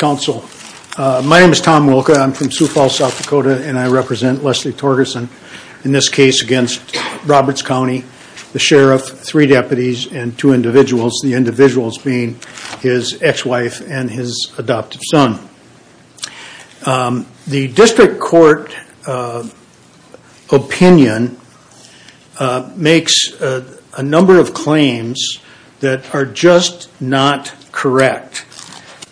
My name is Tom Wilka. I'm from Sioux Falls, South Dakota, and I represent Leslie Torgerson in this case against Roberts County, the Sheriff, three deputies, and two individuals, the individuals being his ex-wife and his adoptive son. The district court opinion makes a number of claims that are just not correct.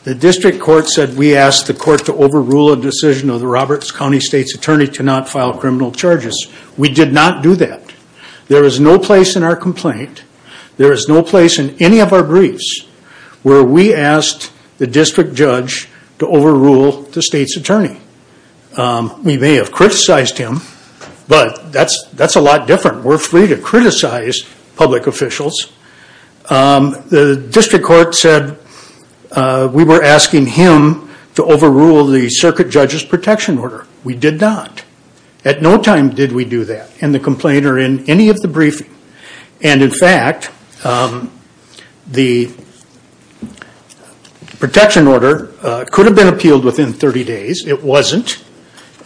The district court said we asked the court to overrule a decision of the Roberts County State's Attorney to not file criminal charges. We did not do that. There is no place in our complaint, there is no place in any of our briefs where we asked the district judge to overrule the State's Attorney. We may have criticized him, but that's a lot different. We're free to criticize public officials. The district court said we were asking him to overrule the circuit judge's protection order. We did not. At no time did we do that in the complaint or in any of the briefings. In fact, the protection order could have been appealed within 30 days. It wasn't.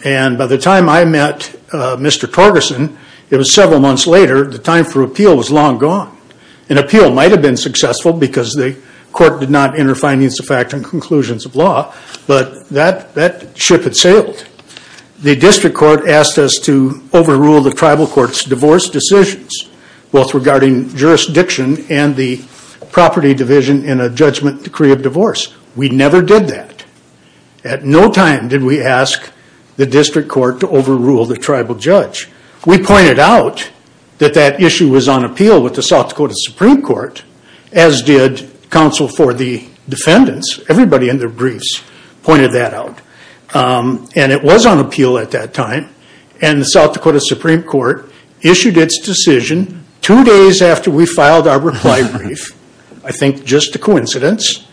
By the time I met Mr. Torgerson, it was several months later, the time for appeal was long gone. An appeal might have been successful because the court did not enter findings to factor in conclusions of law, but that ship had sailed. The district court asked us to overrule the tribal court's divorce decisions, both regarding jurisdiction and the property division in a judgment decree of divorce. We never did that. At no time did we ask the district court to overrule the tribal judge. We pointed out that that issue was on appeal with the South Dakota Supreme Court, as did counsel for the defendants. Everybody in their briefs pointed that out, and it was on appeal at that time. The South Dakota Supreme Court issued its decision two days after we filed our reply brief, I think just a coincidence,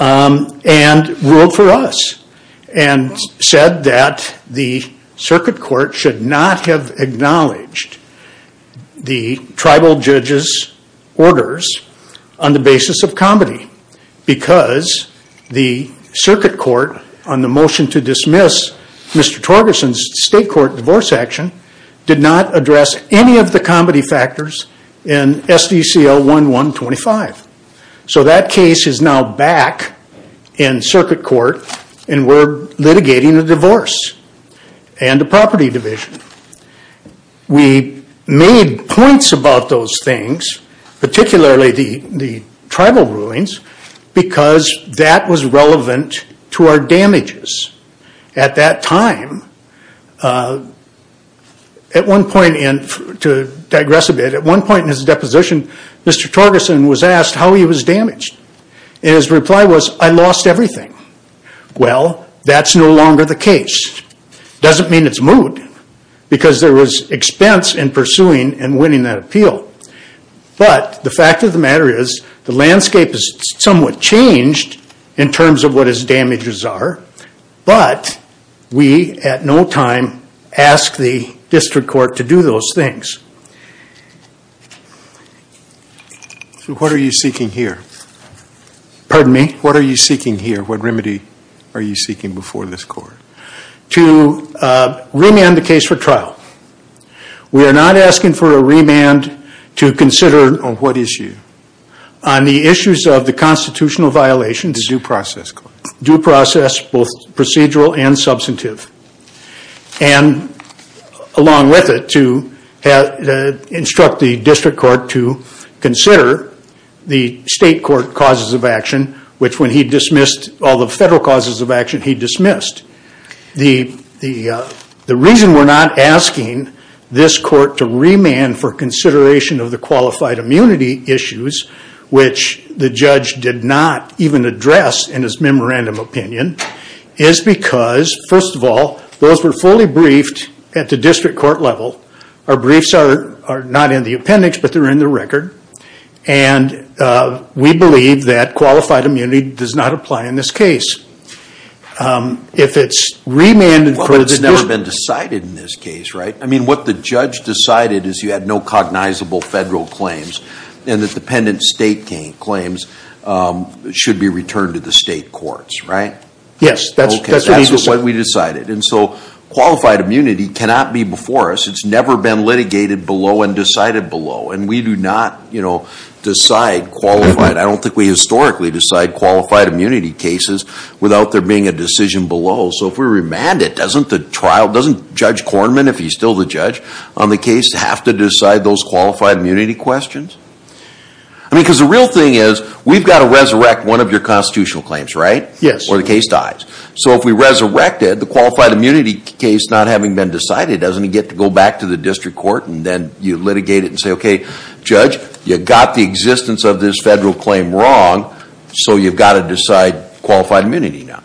and ruled for us. It said that the circuit court should not have acknowledged the tribal judge's orders on the basis of comity because the circuit court, on the motion to dismiss Mr. Torgerson's state court divorce action, did not address any of the comity factors in SDCL 1125. So that case is now back in circuit court, and we're litigating a divorce and a property division. We made points about those things, particularly the tribal rulings, because that was relevant to our damages at that time. To digress a bit, at one point in his deposition, Mr. Torgerson was asked how he was damaged, and his reply was, I lost everything. Well, that's no longer the case. It doesn't mean it's moved, because there was expense in pursuing and winning that appeal. But the fact of the matter is, the landscape has somewhat changed in terms of what his damages are, but we, at no time, ask the district court to do those things. So what are you seeking here? Pardon me? What are you seeking here? What remedy are you seeking before this court? To remand the case for trial. We are not asking for a remand to consider... On what issue? On the issues of the constitutional violations... Due process. Due process, both procedural and substantive. And along with it, to instruct the district court to consider the state court causes of action, which when he dismissed all the federal causes of action, he dismissed. The reason we're not asking this court to remand for consideration of the qualified immunity issues, which the judge did not even address in his memorandum opinion, is because, first of all, those were fully briefed at the district court level. Our briefs are not in the appendix, but they're in the record. And we believe that qualified immunity does not apply in this case. If it's remanded... Well, but it's never been decided in this case, right? I mean, what the judge decided is you had no cognizable federal claims, and the dependent state claims should be returned to the state courts, right? Yes, that's what we decided. And so qualified immunity cannot be before us. It's never been litigated below and decided below. And we do not, you know, decide qualified... I don't think we historically decide qualified immunity cases without there being a decision below. So if we remand it, doesn't the trial... Doesn't Judge Kornman, if he's still the judge on the case, have to decide those qualified immunity questions? I mean, because the real thing is we've got to resurrect one of your constitutional claims, right? Yes. Or the case dies. So if we resurrected the qualified immunity case not having been decided, doesn't he get to go back to the district court, and then you litigate it and say, okay, judge, you got the existence of this federal claim wrong, so you've got to decide qualified immunity now.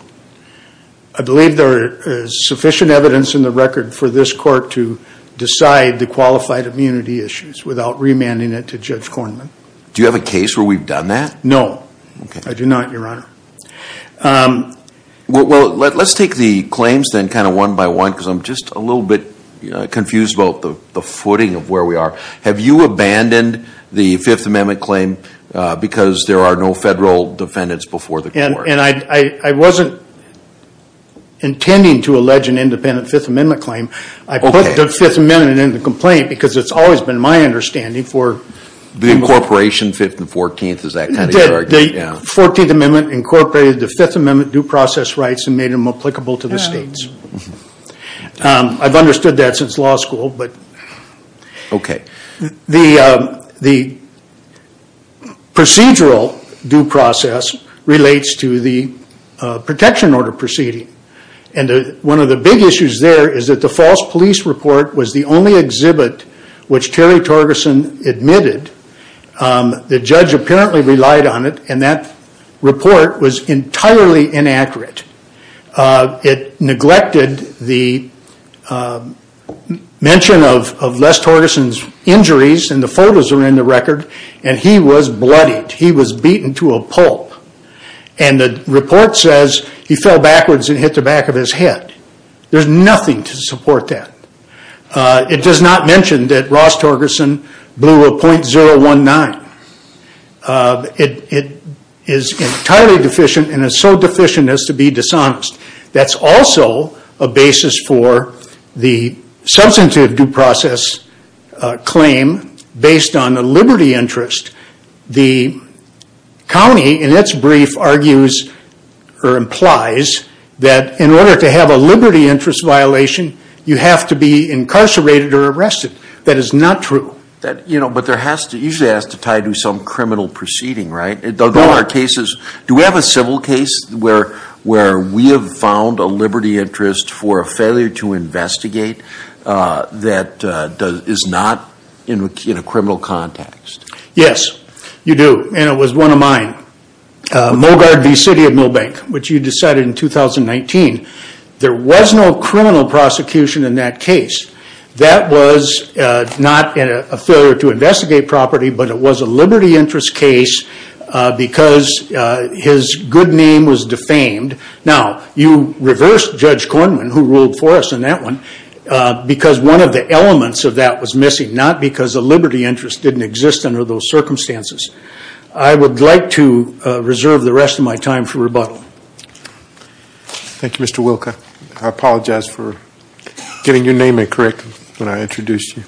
I believe there is sufficient evidence in the record for this court to decide the qualified immunity issues without remanding it to Judge Kornman. Do you have a case where we've done that? No, I do not, Your Honor. Well, let's take the claims then kind of one by one because I'm just a little bit confused about the footing of where we are. Have you abandoned the Fifth Amendment claim because there are no federal defendants before the court? And I wasn't intending to allege an independent Fifth Amendment claim. I put the Fifth Amendment in the complaint because it's always been my understanding for people... The incorporation, 5th and 14th, is that kind of your argument? The 14th Amendment incorporated the Fifth Amendment due process rights and made them applicable to the states. I've understood that since law school, but... Okay. The procedural due process relates to the protection order proceeding. One of the big issues there is that the false police report was the only exhibit which Terry Torgerson admitted. The judge apparently relied on it and that report was entirely inaccurate. It neglected the mention of Les Torgerson's injuries and the photos are in the record and he was bloodied. He was beaten to a pulp. And the report says he fell backwards and hit the back of his head. There's nothing to support that. It does not mention that Ross Torgerson blew a .019. It is entirely deficient and is so deficient as to be dishonest. That's also a basis for the substantive due process claim based on a liberty interest. The county, in its brief, argues or implies that in order to have a liberty interest violation, you have to be incarcerated or arrested. That is not true. Usually it has to tie to some criminal proceeding, right? Do we have a civil case where we have found a liberty interest for a failure to investigate that is not in a criminal context? Yes, you do, and it was one of mine. Mogard v. City of Milbank, which you decided in 2019. There was no criminal prosecution in that case. That was not a failure to investigate property, but it was a liberty interest case because his good name was defamed. You reversed Judge Kornman, who ruled for us in that one, because one of the elements of that was missing, not because the liberty interest didn't exist under those circumstances. I would like to reserve the rest of my time for rebuttal. Thank you, Mr. Wilk. I apologize for getting your name incorrect when I introduced you.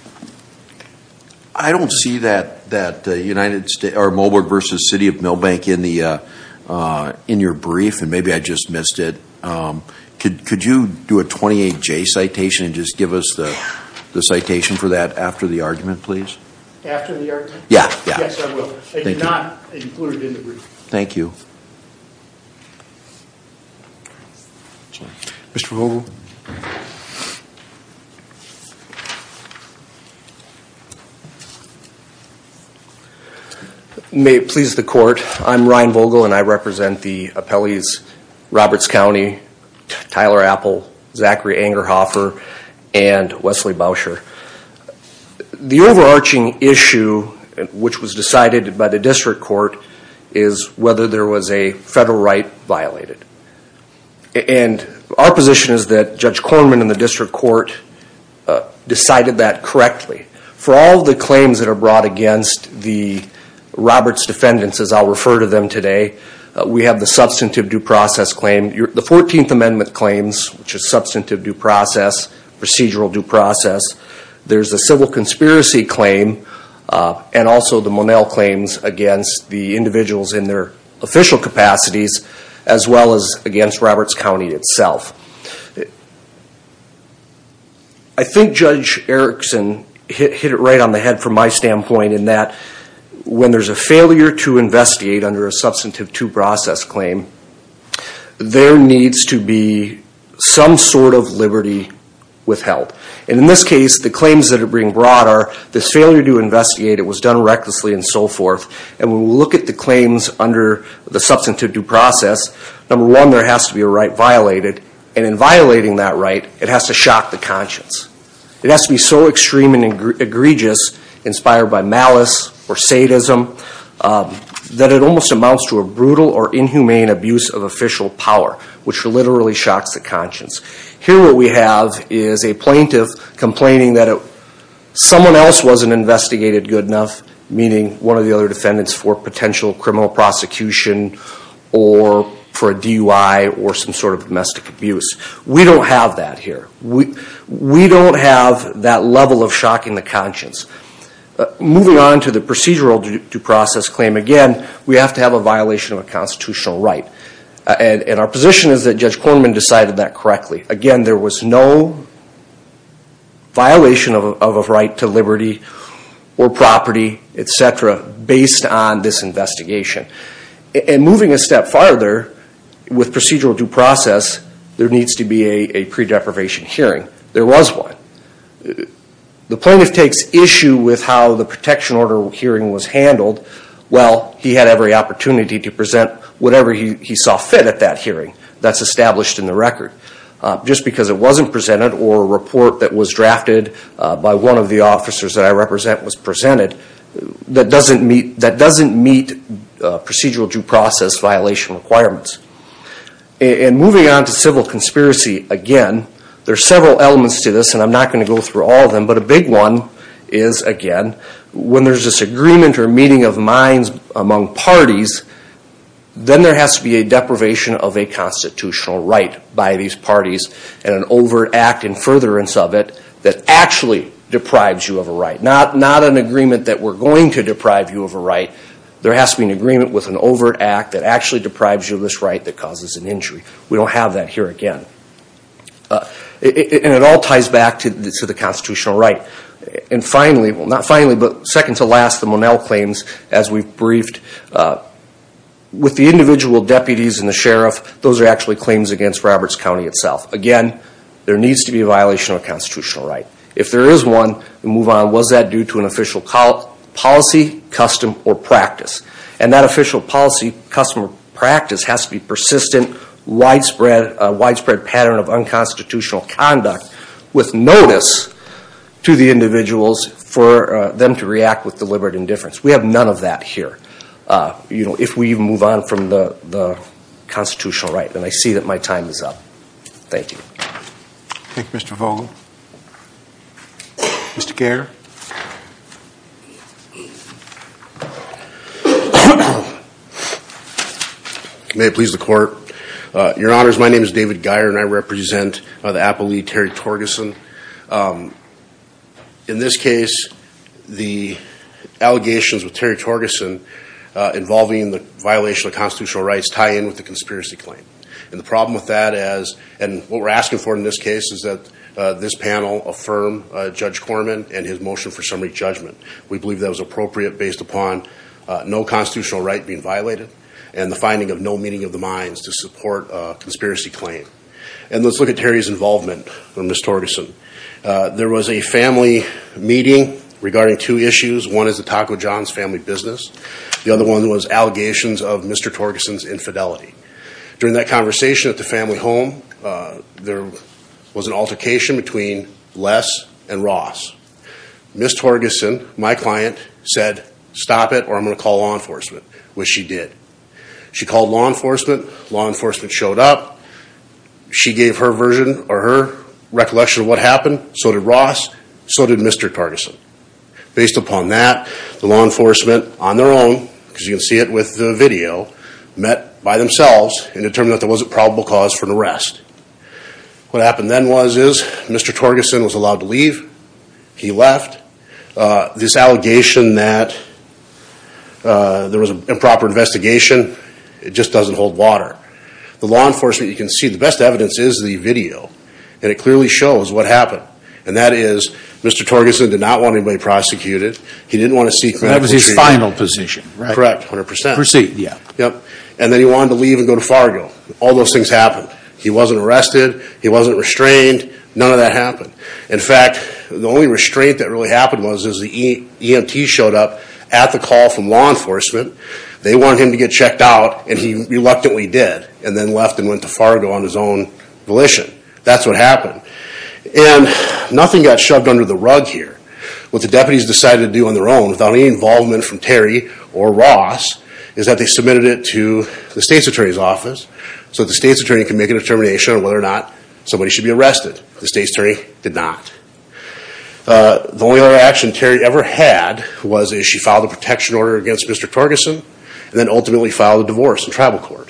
I don't see Mogard v. City of Milbank in your brief, and maybe I just missed it. Could you do a 28-J citation and just give us the citation for that after the argument, please? After the argument? Yes, I will. It's not included in the brief. Thank you. Mr. Vogel? May it please the Court, I'm Ryan Vogel, and I represent the appellees Roberts County, Tyler Apple, Zachary Angerhofer, and Wesley Bousher. The overarching issue, which was decided by the district court, is whether there was a federal right violated. And our position is that Judge Kornman and the district court decided that correctly. For all the claims that are brought against the Roberts defendants, as I'll refer to them today, we have the substantive due process claim. The 14th Amendment claims, which is substantive due process, procedural due process. There's a civil conspiracy claim, and also the Monell claims against the individuals in their official capacities, as well as against Roberts County itself. I think Judge Erickson hit it right on the head from my standpoint in that when there's a failure to investigate under a substantive due process claim, there needs to be some sort of liberty withheld. And in this case, the claims that are being brought are this failure to investigate. It was done recklessly and so forth. And when we look at the claims under the substantive due process, number one, there has to be a right violated. And in violating that right, it has to shock the conscience. It has to be so extreme and egregious, inspired by malice or sadism, that it almost amounts to a brutal or inhumane abuse of official power, which literally shocks the conscience. Here what we have is a plaintiff complaining that someone else wasn't investigated good enough, meaning one of the other defendants for potential criminal prosecution or for a DUI or some sort of domestic abuse. We don't have that here. We don't have that level of shocking the conscience. Moving on to the procedural due process claim, again, we have to have a violation of a constitutional right. And our position is that Judge Kornman decided that correctly. Again, there was no violation of a right to liberty or property, et cetera, based on this investigation. And moving a step farther, with procedural due process, there needs to be a pre-deprivation hearing. There was one. The plaintiff takes issue with how the protection order hearing was handled. Well, he had every opportunity to present whatever he saw fit at that hearing. That's established in the record. Just because it wasn't presented or a report that was drafted by one of the officers that I represent was presented, that doesn't meet procedural due process violation requirements. And moving on to civil conspiracy, again, there are several elements to this, and I'm not going to go through all of them. But a big one is, again, when there's disagreement or meeting of minds among parties, then there has to be a deprivation of a constitutional right by these parties and an overact and furtherance of it that actually deprives you of a right. Not an agreement that we're going to deprive you of a right. There has to be an agreement with an overt act that actually deprives you of this right that causes an injury. We don't have that here again. And it all ties back to the constitutional right. And finally, well, not finally, but second to last, the Monell claims, as we've briefed, with the individual deputies and the sheriff, those are actually claims against Roberts County itself. Again, there needs to be a violation of a constitutional right. If there is one, move on. Was that due to an official policy, custom, or practice? And that official policy, custom, or practice has to be persistent, widespread pattern of unconstitutional conduct with notice to the individuals for them to react with deliberate indifference. We have none of that here, you know, if we even move on from the constitutional right. And I see that my time is up. Thank you. Thank you, Mr. Vogel. Mr. Gehr. May it please the Court. Your Honors, my name is David Gehr, and I represent the Apple League, Terry Torgerson. In this case, the allegations with Terry Torgerson involving the violation of constitutional rights tie in with the conspiracy claim. And the problem with that is, and what we're asking for in this case is that this panel affirm Judge Corman and his motion for summary judgment. We believe that was appropriate based upon no constitutional right being violated and the finding of no meeting of the minds to support a conspiracy claim. And let's look at Terry's involvement with Ms. Torgerson. There was a family meeting regarding two issues. One is the Taco John's family business. The other one was allegations of Mr. Torgerson's infidelity. During that conversation at the family home, there was an altercation between Les and Ross. Ms. Torgerson, my client, said, stop it or I'm going to call law enforcement, which she did. She called law enforcement. Law enforcement showed up. She gave her version or her recollection of what happened. So did Ross. So did Mr. Torgerson. Based upon that, the law enforcement on their own, because you can see it with the video, met by themselves and determined that there was a probable cause for an arrest. What happened then was, is Mr. Torgerson was allowed to leave. He left. This allegation that there was an improper investigation, it just doesn't hold water. The law enforcement, you can see the best evidence is the video. And it clearly shows what happened. And that is, Mr. Torgerson did not want anybody prosecuted. He didn't want to seek retaliation. That was his final position, right? Correct, 100%. Proceed. Yep. And then he wanted to leave and go to Fargo. All those things happened. He wasn't arrested. He wasn't restrained. None of that happened. In fact, the only restraint that really happened was the EMT showed up at the call from law enforcement. They wanted him to get checked out, and he reluctantly did, and then left and went to Fargo on his own volition. That's what happened. And nothing got shoved under the rug here. What the deputies decided to do on their own, without any involvement from Terry or Ross, is that they submitted it to the state's attorney's office so the state's attorney could make a determination on whether or not somebody should be arrested. The state's attorney did not. The only other action Terry ever had was she filed a protection order against Mr. Torgerson and then ultimately filed a divorce in tribal court.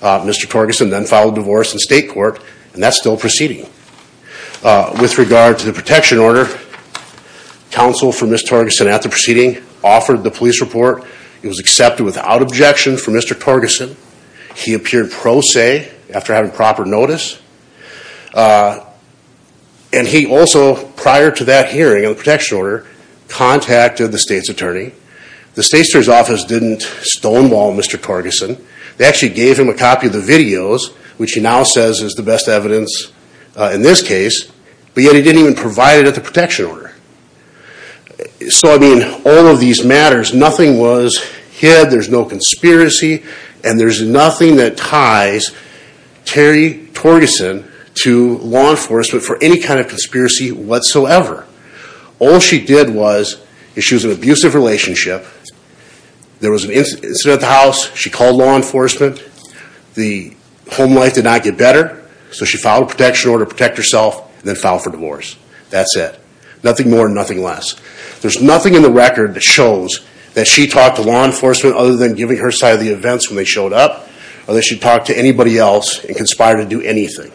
Mr. Torgerson then filed a divorce in state court, and that's still proceeding. With regard to the protection order, counsel for Ms. Torgerson, at the proceeding, offered the police report. It was accepted without objection from Mr. Torgerson. He appeared pro se after having proper notice. And he also, prior to that hearing on the protection order, contacted the state's attorney. The state's attorney's office didn't stonewall Mr. Torgerson. They actually gave him a copy of the videos, which he now says is the best evidence in this case, but yet he didn't even provide it at the protection order. So, I mean, all of these matters, nothing was hid, there's no conspiracy, and there's nothing that ties Terry Torgerson to law enforcement for any kind of conspiracy whatsoever. All she did was, she was in an abusive relationship, there was an incident at the house, she called law enforcement, the home life did not get better, so she filed a protection order to protect herself and then filed for divorce. That's it. Nothing more and nothing less. There's nothing in the record that shows that she talked to law enforcement other than giving her side of the events when they showed up, or that she talked to anybody else and conspired to do anything.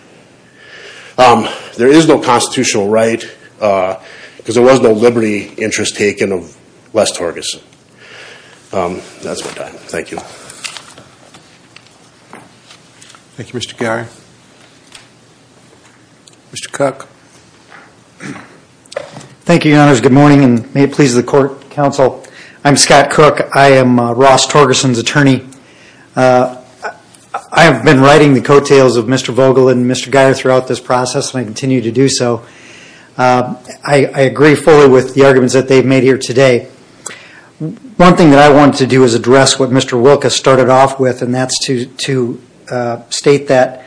There is no constitutional right, because there was no liberty interest taken of Les Torgerson. That's my time. Thank you. Thank you, Mr. Gehry. Mr. Cook. Thank you, Your Honors. Good morning, and may it please the Court, Counsel. I'm Scott Cook. I am Ross Torgerson's attorney. I have been writing the coattails of Mr. Vogel and Mr. Gehry throughout this process, and I continue to do so. I agree fully with the arguments that they've made here today. One thing that I want to do is address what Mr. Wilka started off with, and that's to state that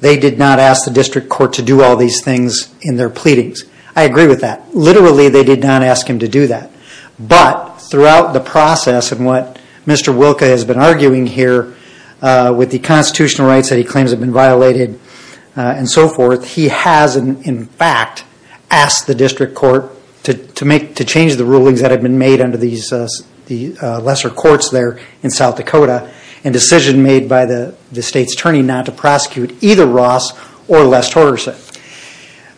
they did not ask the district court to do all these things in their pleadings. I agree with that. Literally they did not ask him to do that. But throughout the process and what Mr. Wilka has been arguing here with the constitutional rights that he claims have been violated and so forth, he has, in fact, asked the district court to change the rulings that have been made under the lesser courts there in South Dakota in a decision made by the state's attorney not to prosecute either Ross or Les Torgerson.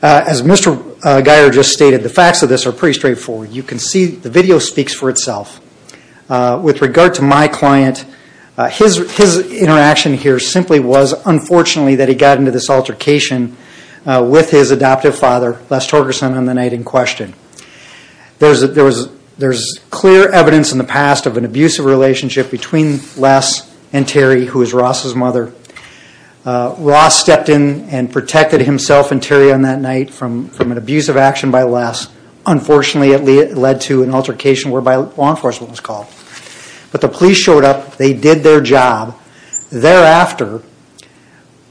As Mr. Gehry just stated, the facts of this are pretty straightforward. You can see the video speaks for itself. With regard to my client, his interaction here simply was, unfortunately, that he got into this altercation with his adoptive father, Les Torgerson, on the night in question. There's clear evidence in the past of an abusive relationship between Les and Terry, who is Ross' mother. Ross stepped in and protected himself and Terry on that night from an abusive action by Les. Unfortunately, it led to an altercation whereby law enforcement was called. But the police showed up. They did their job. Thereafter,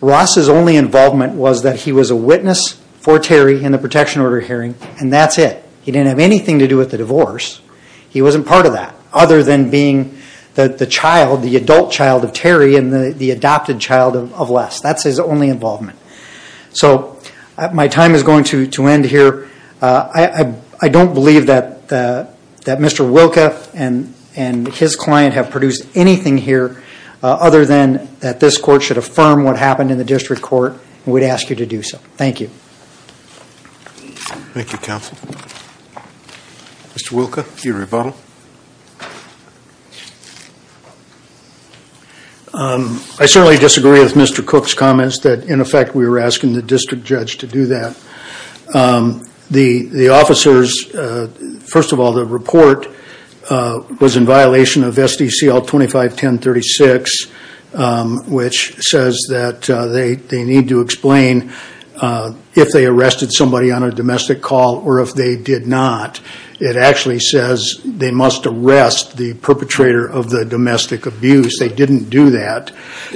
Ross' only involvement was that he was a witness for Terry in the protection order hearing, and that's it. He didn't have anything to do with the divorce. He wasn't part of that other than being the adult child of Terry and the adopted child of Les. That's his only involvement. So my time is going to end here. I don't believe that Mr. Wilka and his client have produced anything here other than that this court should affirm what happened in the district court and would ask you to do so. Thank you. Thank you, counsel. Mr. Wilka, your rebuttal. I certainly disagree with Mr. Cook's comments that, in effect, we were asking the district judge to do that. The officers, first of all, the report was in violation of SDCL 251036, which says that they need to explain if they arrested somebody on a domestic call or if they did not. It actually says they must arrest the perpetrator of the domestic abuse. They didn't do that.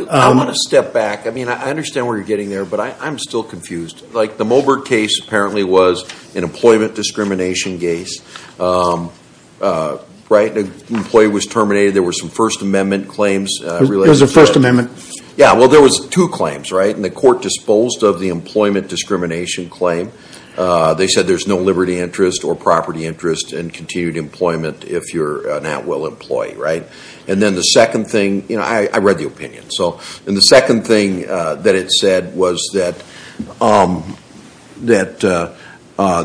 I want to step back. I mean, I understand where you're getting there, but I'm still confused. Like the Moberg case apparently was an employment discrimination case, right? An employee was terminated. There were some First Amendment claims related to that. There was a First Amendment. Yeah, well, there was two claims, right? And the court disposed of the employment discrimination claim. They said there's no liberty interest or property interest in continued employment if you're an at-will employee, right? And then the second thing, you know, I read the opinion. And the second thing that it said was that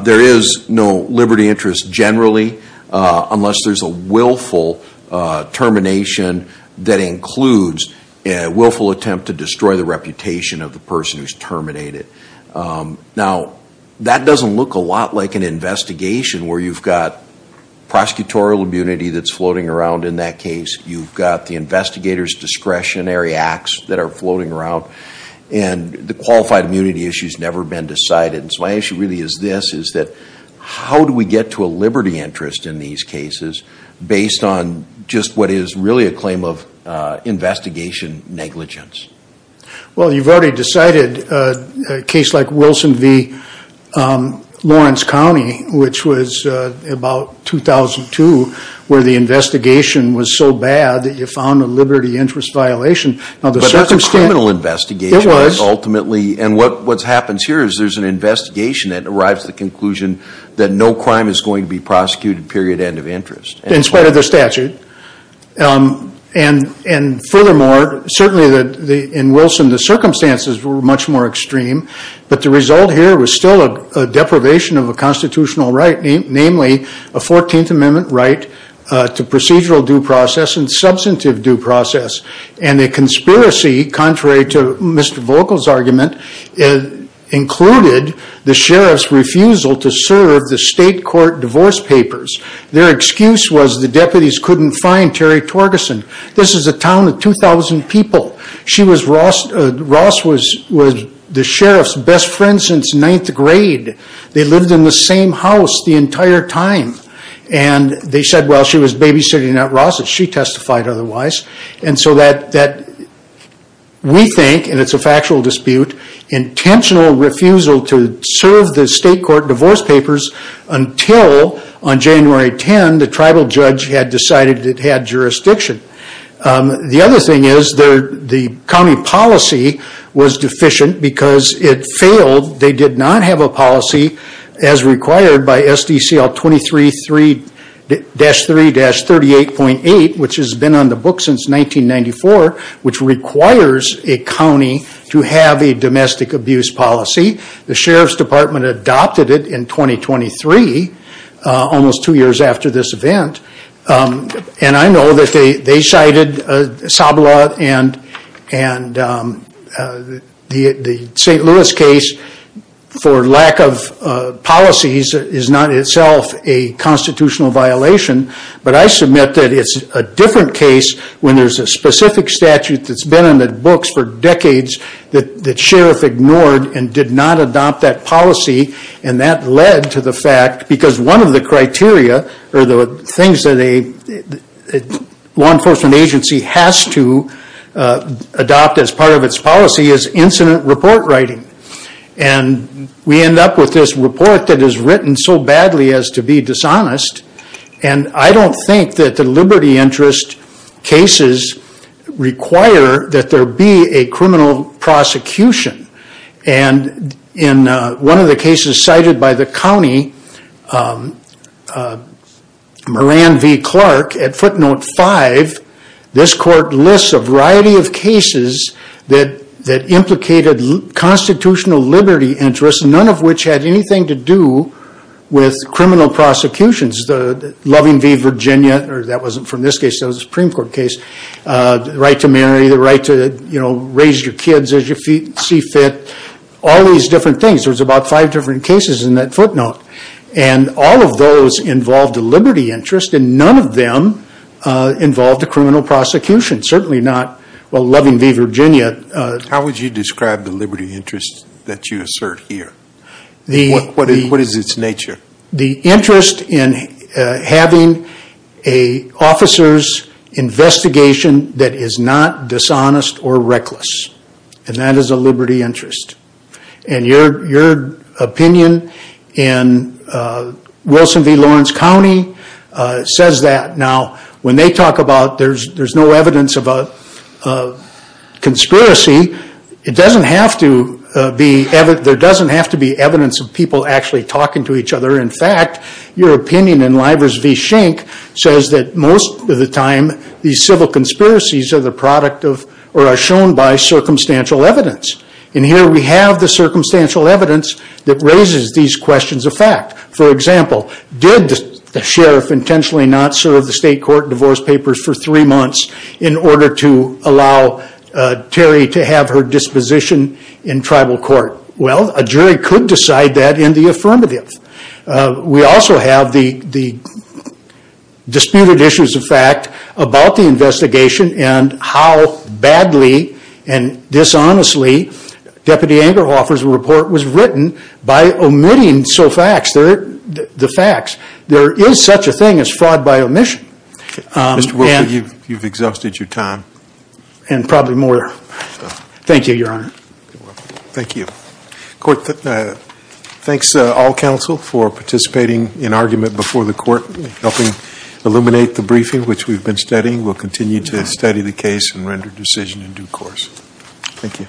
there is no liberty interest generally unless there's a willful termination that includes a willful attempt to destroy the reputation of the person who's terminated. Now, that doesn't look a lot like an investigation where you've got prosecutorial immunity that's floating around in that case. You've got the investigators' discretionary acts that are floating around. And the qualified immunity issue's never been decided. And so my issue really is this, is that how do we get to a liberty interest in these cases based on just what is really a claim of investigation negligence? Well, you've already decided a case like Wilson v. Lawrence County, which was about 2002, where the investigation was so bad that you found a liberty interest violation. But that's a criminal investigation. It was. And what happens here is there's an investigation that arrives at the conclusion that no crime is going to be prosecuted, period, end of interest. In spite of the statute. And furthermore, certainly in Wilson, the circumstances were much more extreme. But the result here was still a deprivation of a constitutional right, namely a 14th Amendment right to procedural due process and substantive due process. And the conspiracy, contrary to Mr. Vogel's argument, included the sheriff's refusal to serve the state court divorce papers. Their excuse was the deputies couldn't find Terry Torgerson. This is a town of 2,000 people. Ross was the sheriff's best friend since ninth grade. They lived in the same house the entire time. And they said, well, she was babysitting at Ross's. She testified otherwise. And so we think, and it's a factual dispute, intentional refusal to serve the state court divorce papers until on January 10 the tribal judge had decided it had jurisdiction. The other thing is the county policy was deficient because it failed. They did not have a policy as required by SDCL 23-3-38.8, which has been on the book since 1994, which requires a county to have a domestic abuse policy. The sheriff's department adopted it in 2023, almost two years after this event. And I know that they cited SABLA, and the St. Louis case for lack of policies is not itself a constitutional violation. But I submit that it's a different case when there's a specific statute that's been in the books for decades that the sheriff ignored and did not adopt that policy. And that led to the fact, because one of the criteria, or the things that a law enforcement agency has to adopt as part of its policy, is incident report writing. And we end up with this report that is written so badly as to be dishonest. And I don't think that the liberty interest cases require that there be a criminal prosecution. And in one of the cases cited by the county, Moran v. Clark, at footnote 5, this court lists a variety of cases that implicated constitutional liberty interests, none of which had anything to do with criminal prosecutions. Loving v. Virginia, or that wasn't from this case, that was a Supreme Court case. The right to marry, the right to raise your kids as you see fit. All these different things. There was about five different cases in that footnote. And all of those involved a liberty interest, and none of them involved a criminal prosecution. Certainly not, well, Loving v. Virginia. How would you describe the liberty interest that you assert here? What is its nature? The interest in having an officer's investigation that is not dishonest or reckless. And that is a liberty interest. And your opinion in Wilson v. Lawrence County says that. Now, when they talk about there's no evidence of a conspiracy, there doesn't have to be evidence of people actually talking to each other. In fact, your opinion in Livers v. Schenck says that most of the time, these civil conspiracies are the product of or are shown by circumstantial evidence. And here we have the circumstantial evidence that raises these questions of fact. For example, did the sheriff intentionally not serve the state court divorce papers for three months in order to allow Terry to have her disposition in tribal court? Well, a jury could decide that in the affirmative. We also have the disputed issues of fact about the investigation and how badly and dishonestly Deputy Engelhofer's report was written by omitting the facts. There is such a thing as fraud by omission. Mr. Wilson, you've exhausted your time. And probably more. Thank you, Your Honor. You're welcome. Thank you. Court, thanks to all counsel for participating in argument before the court, helping illuminate the briefing, which we've been studying. We'll continue to study the case and render decision in due course. Thank you.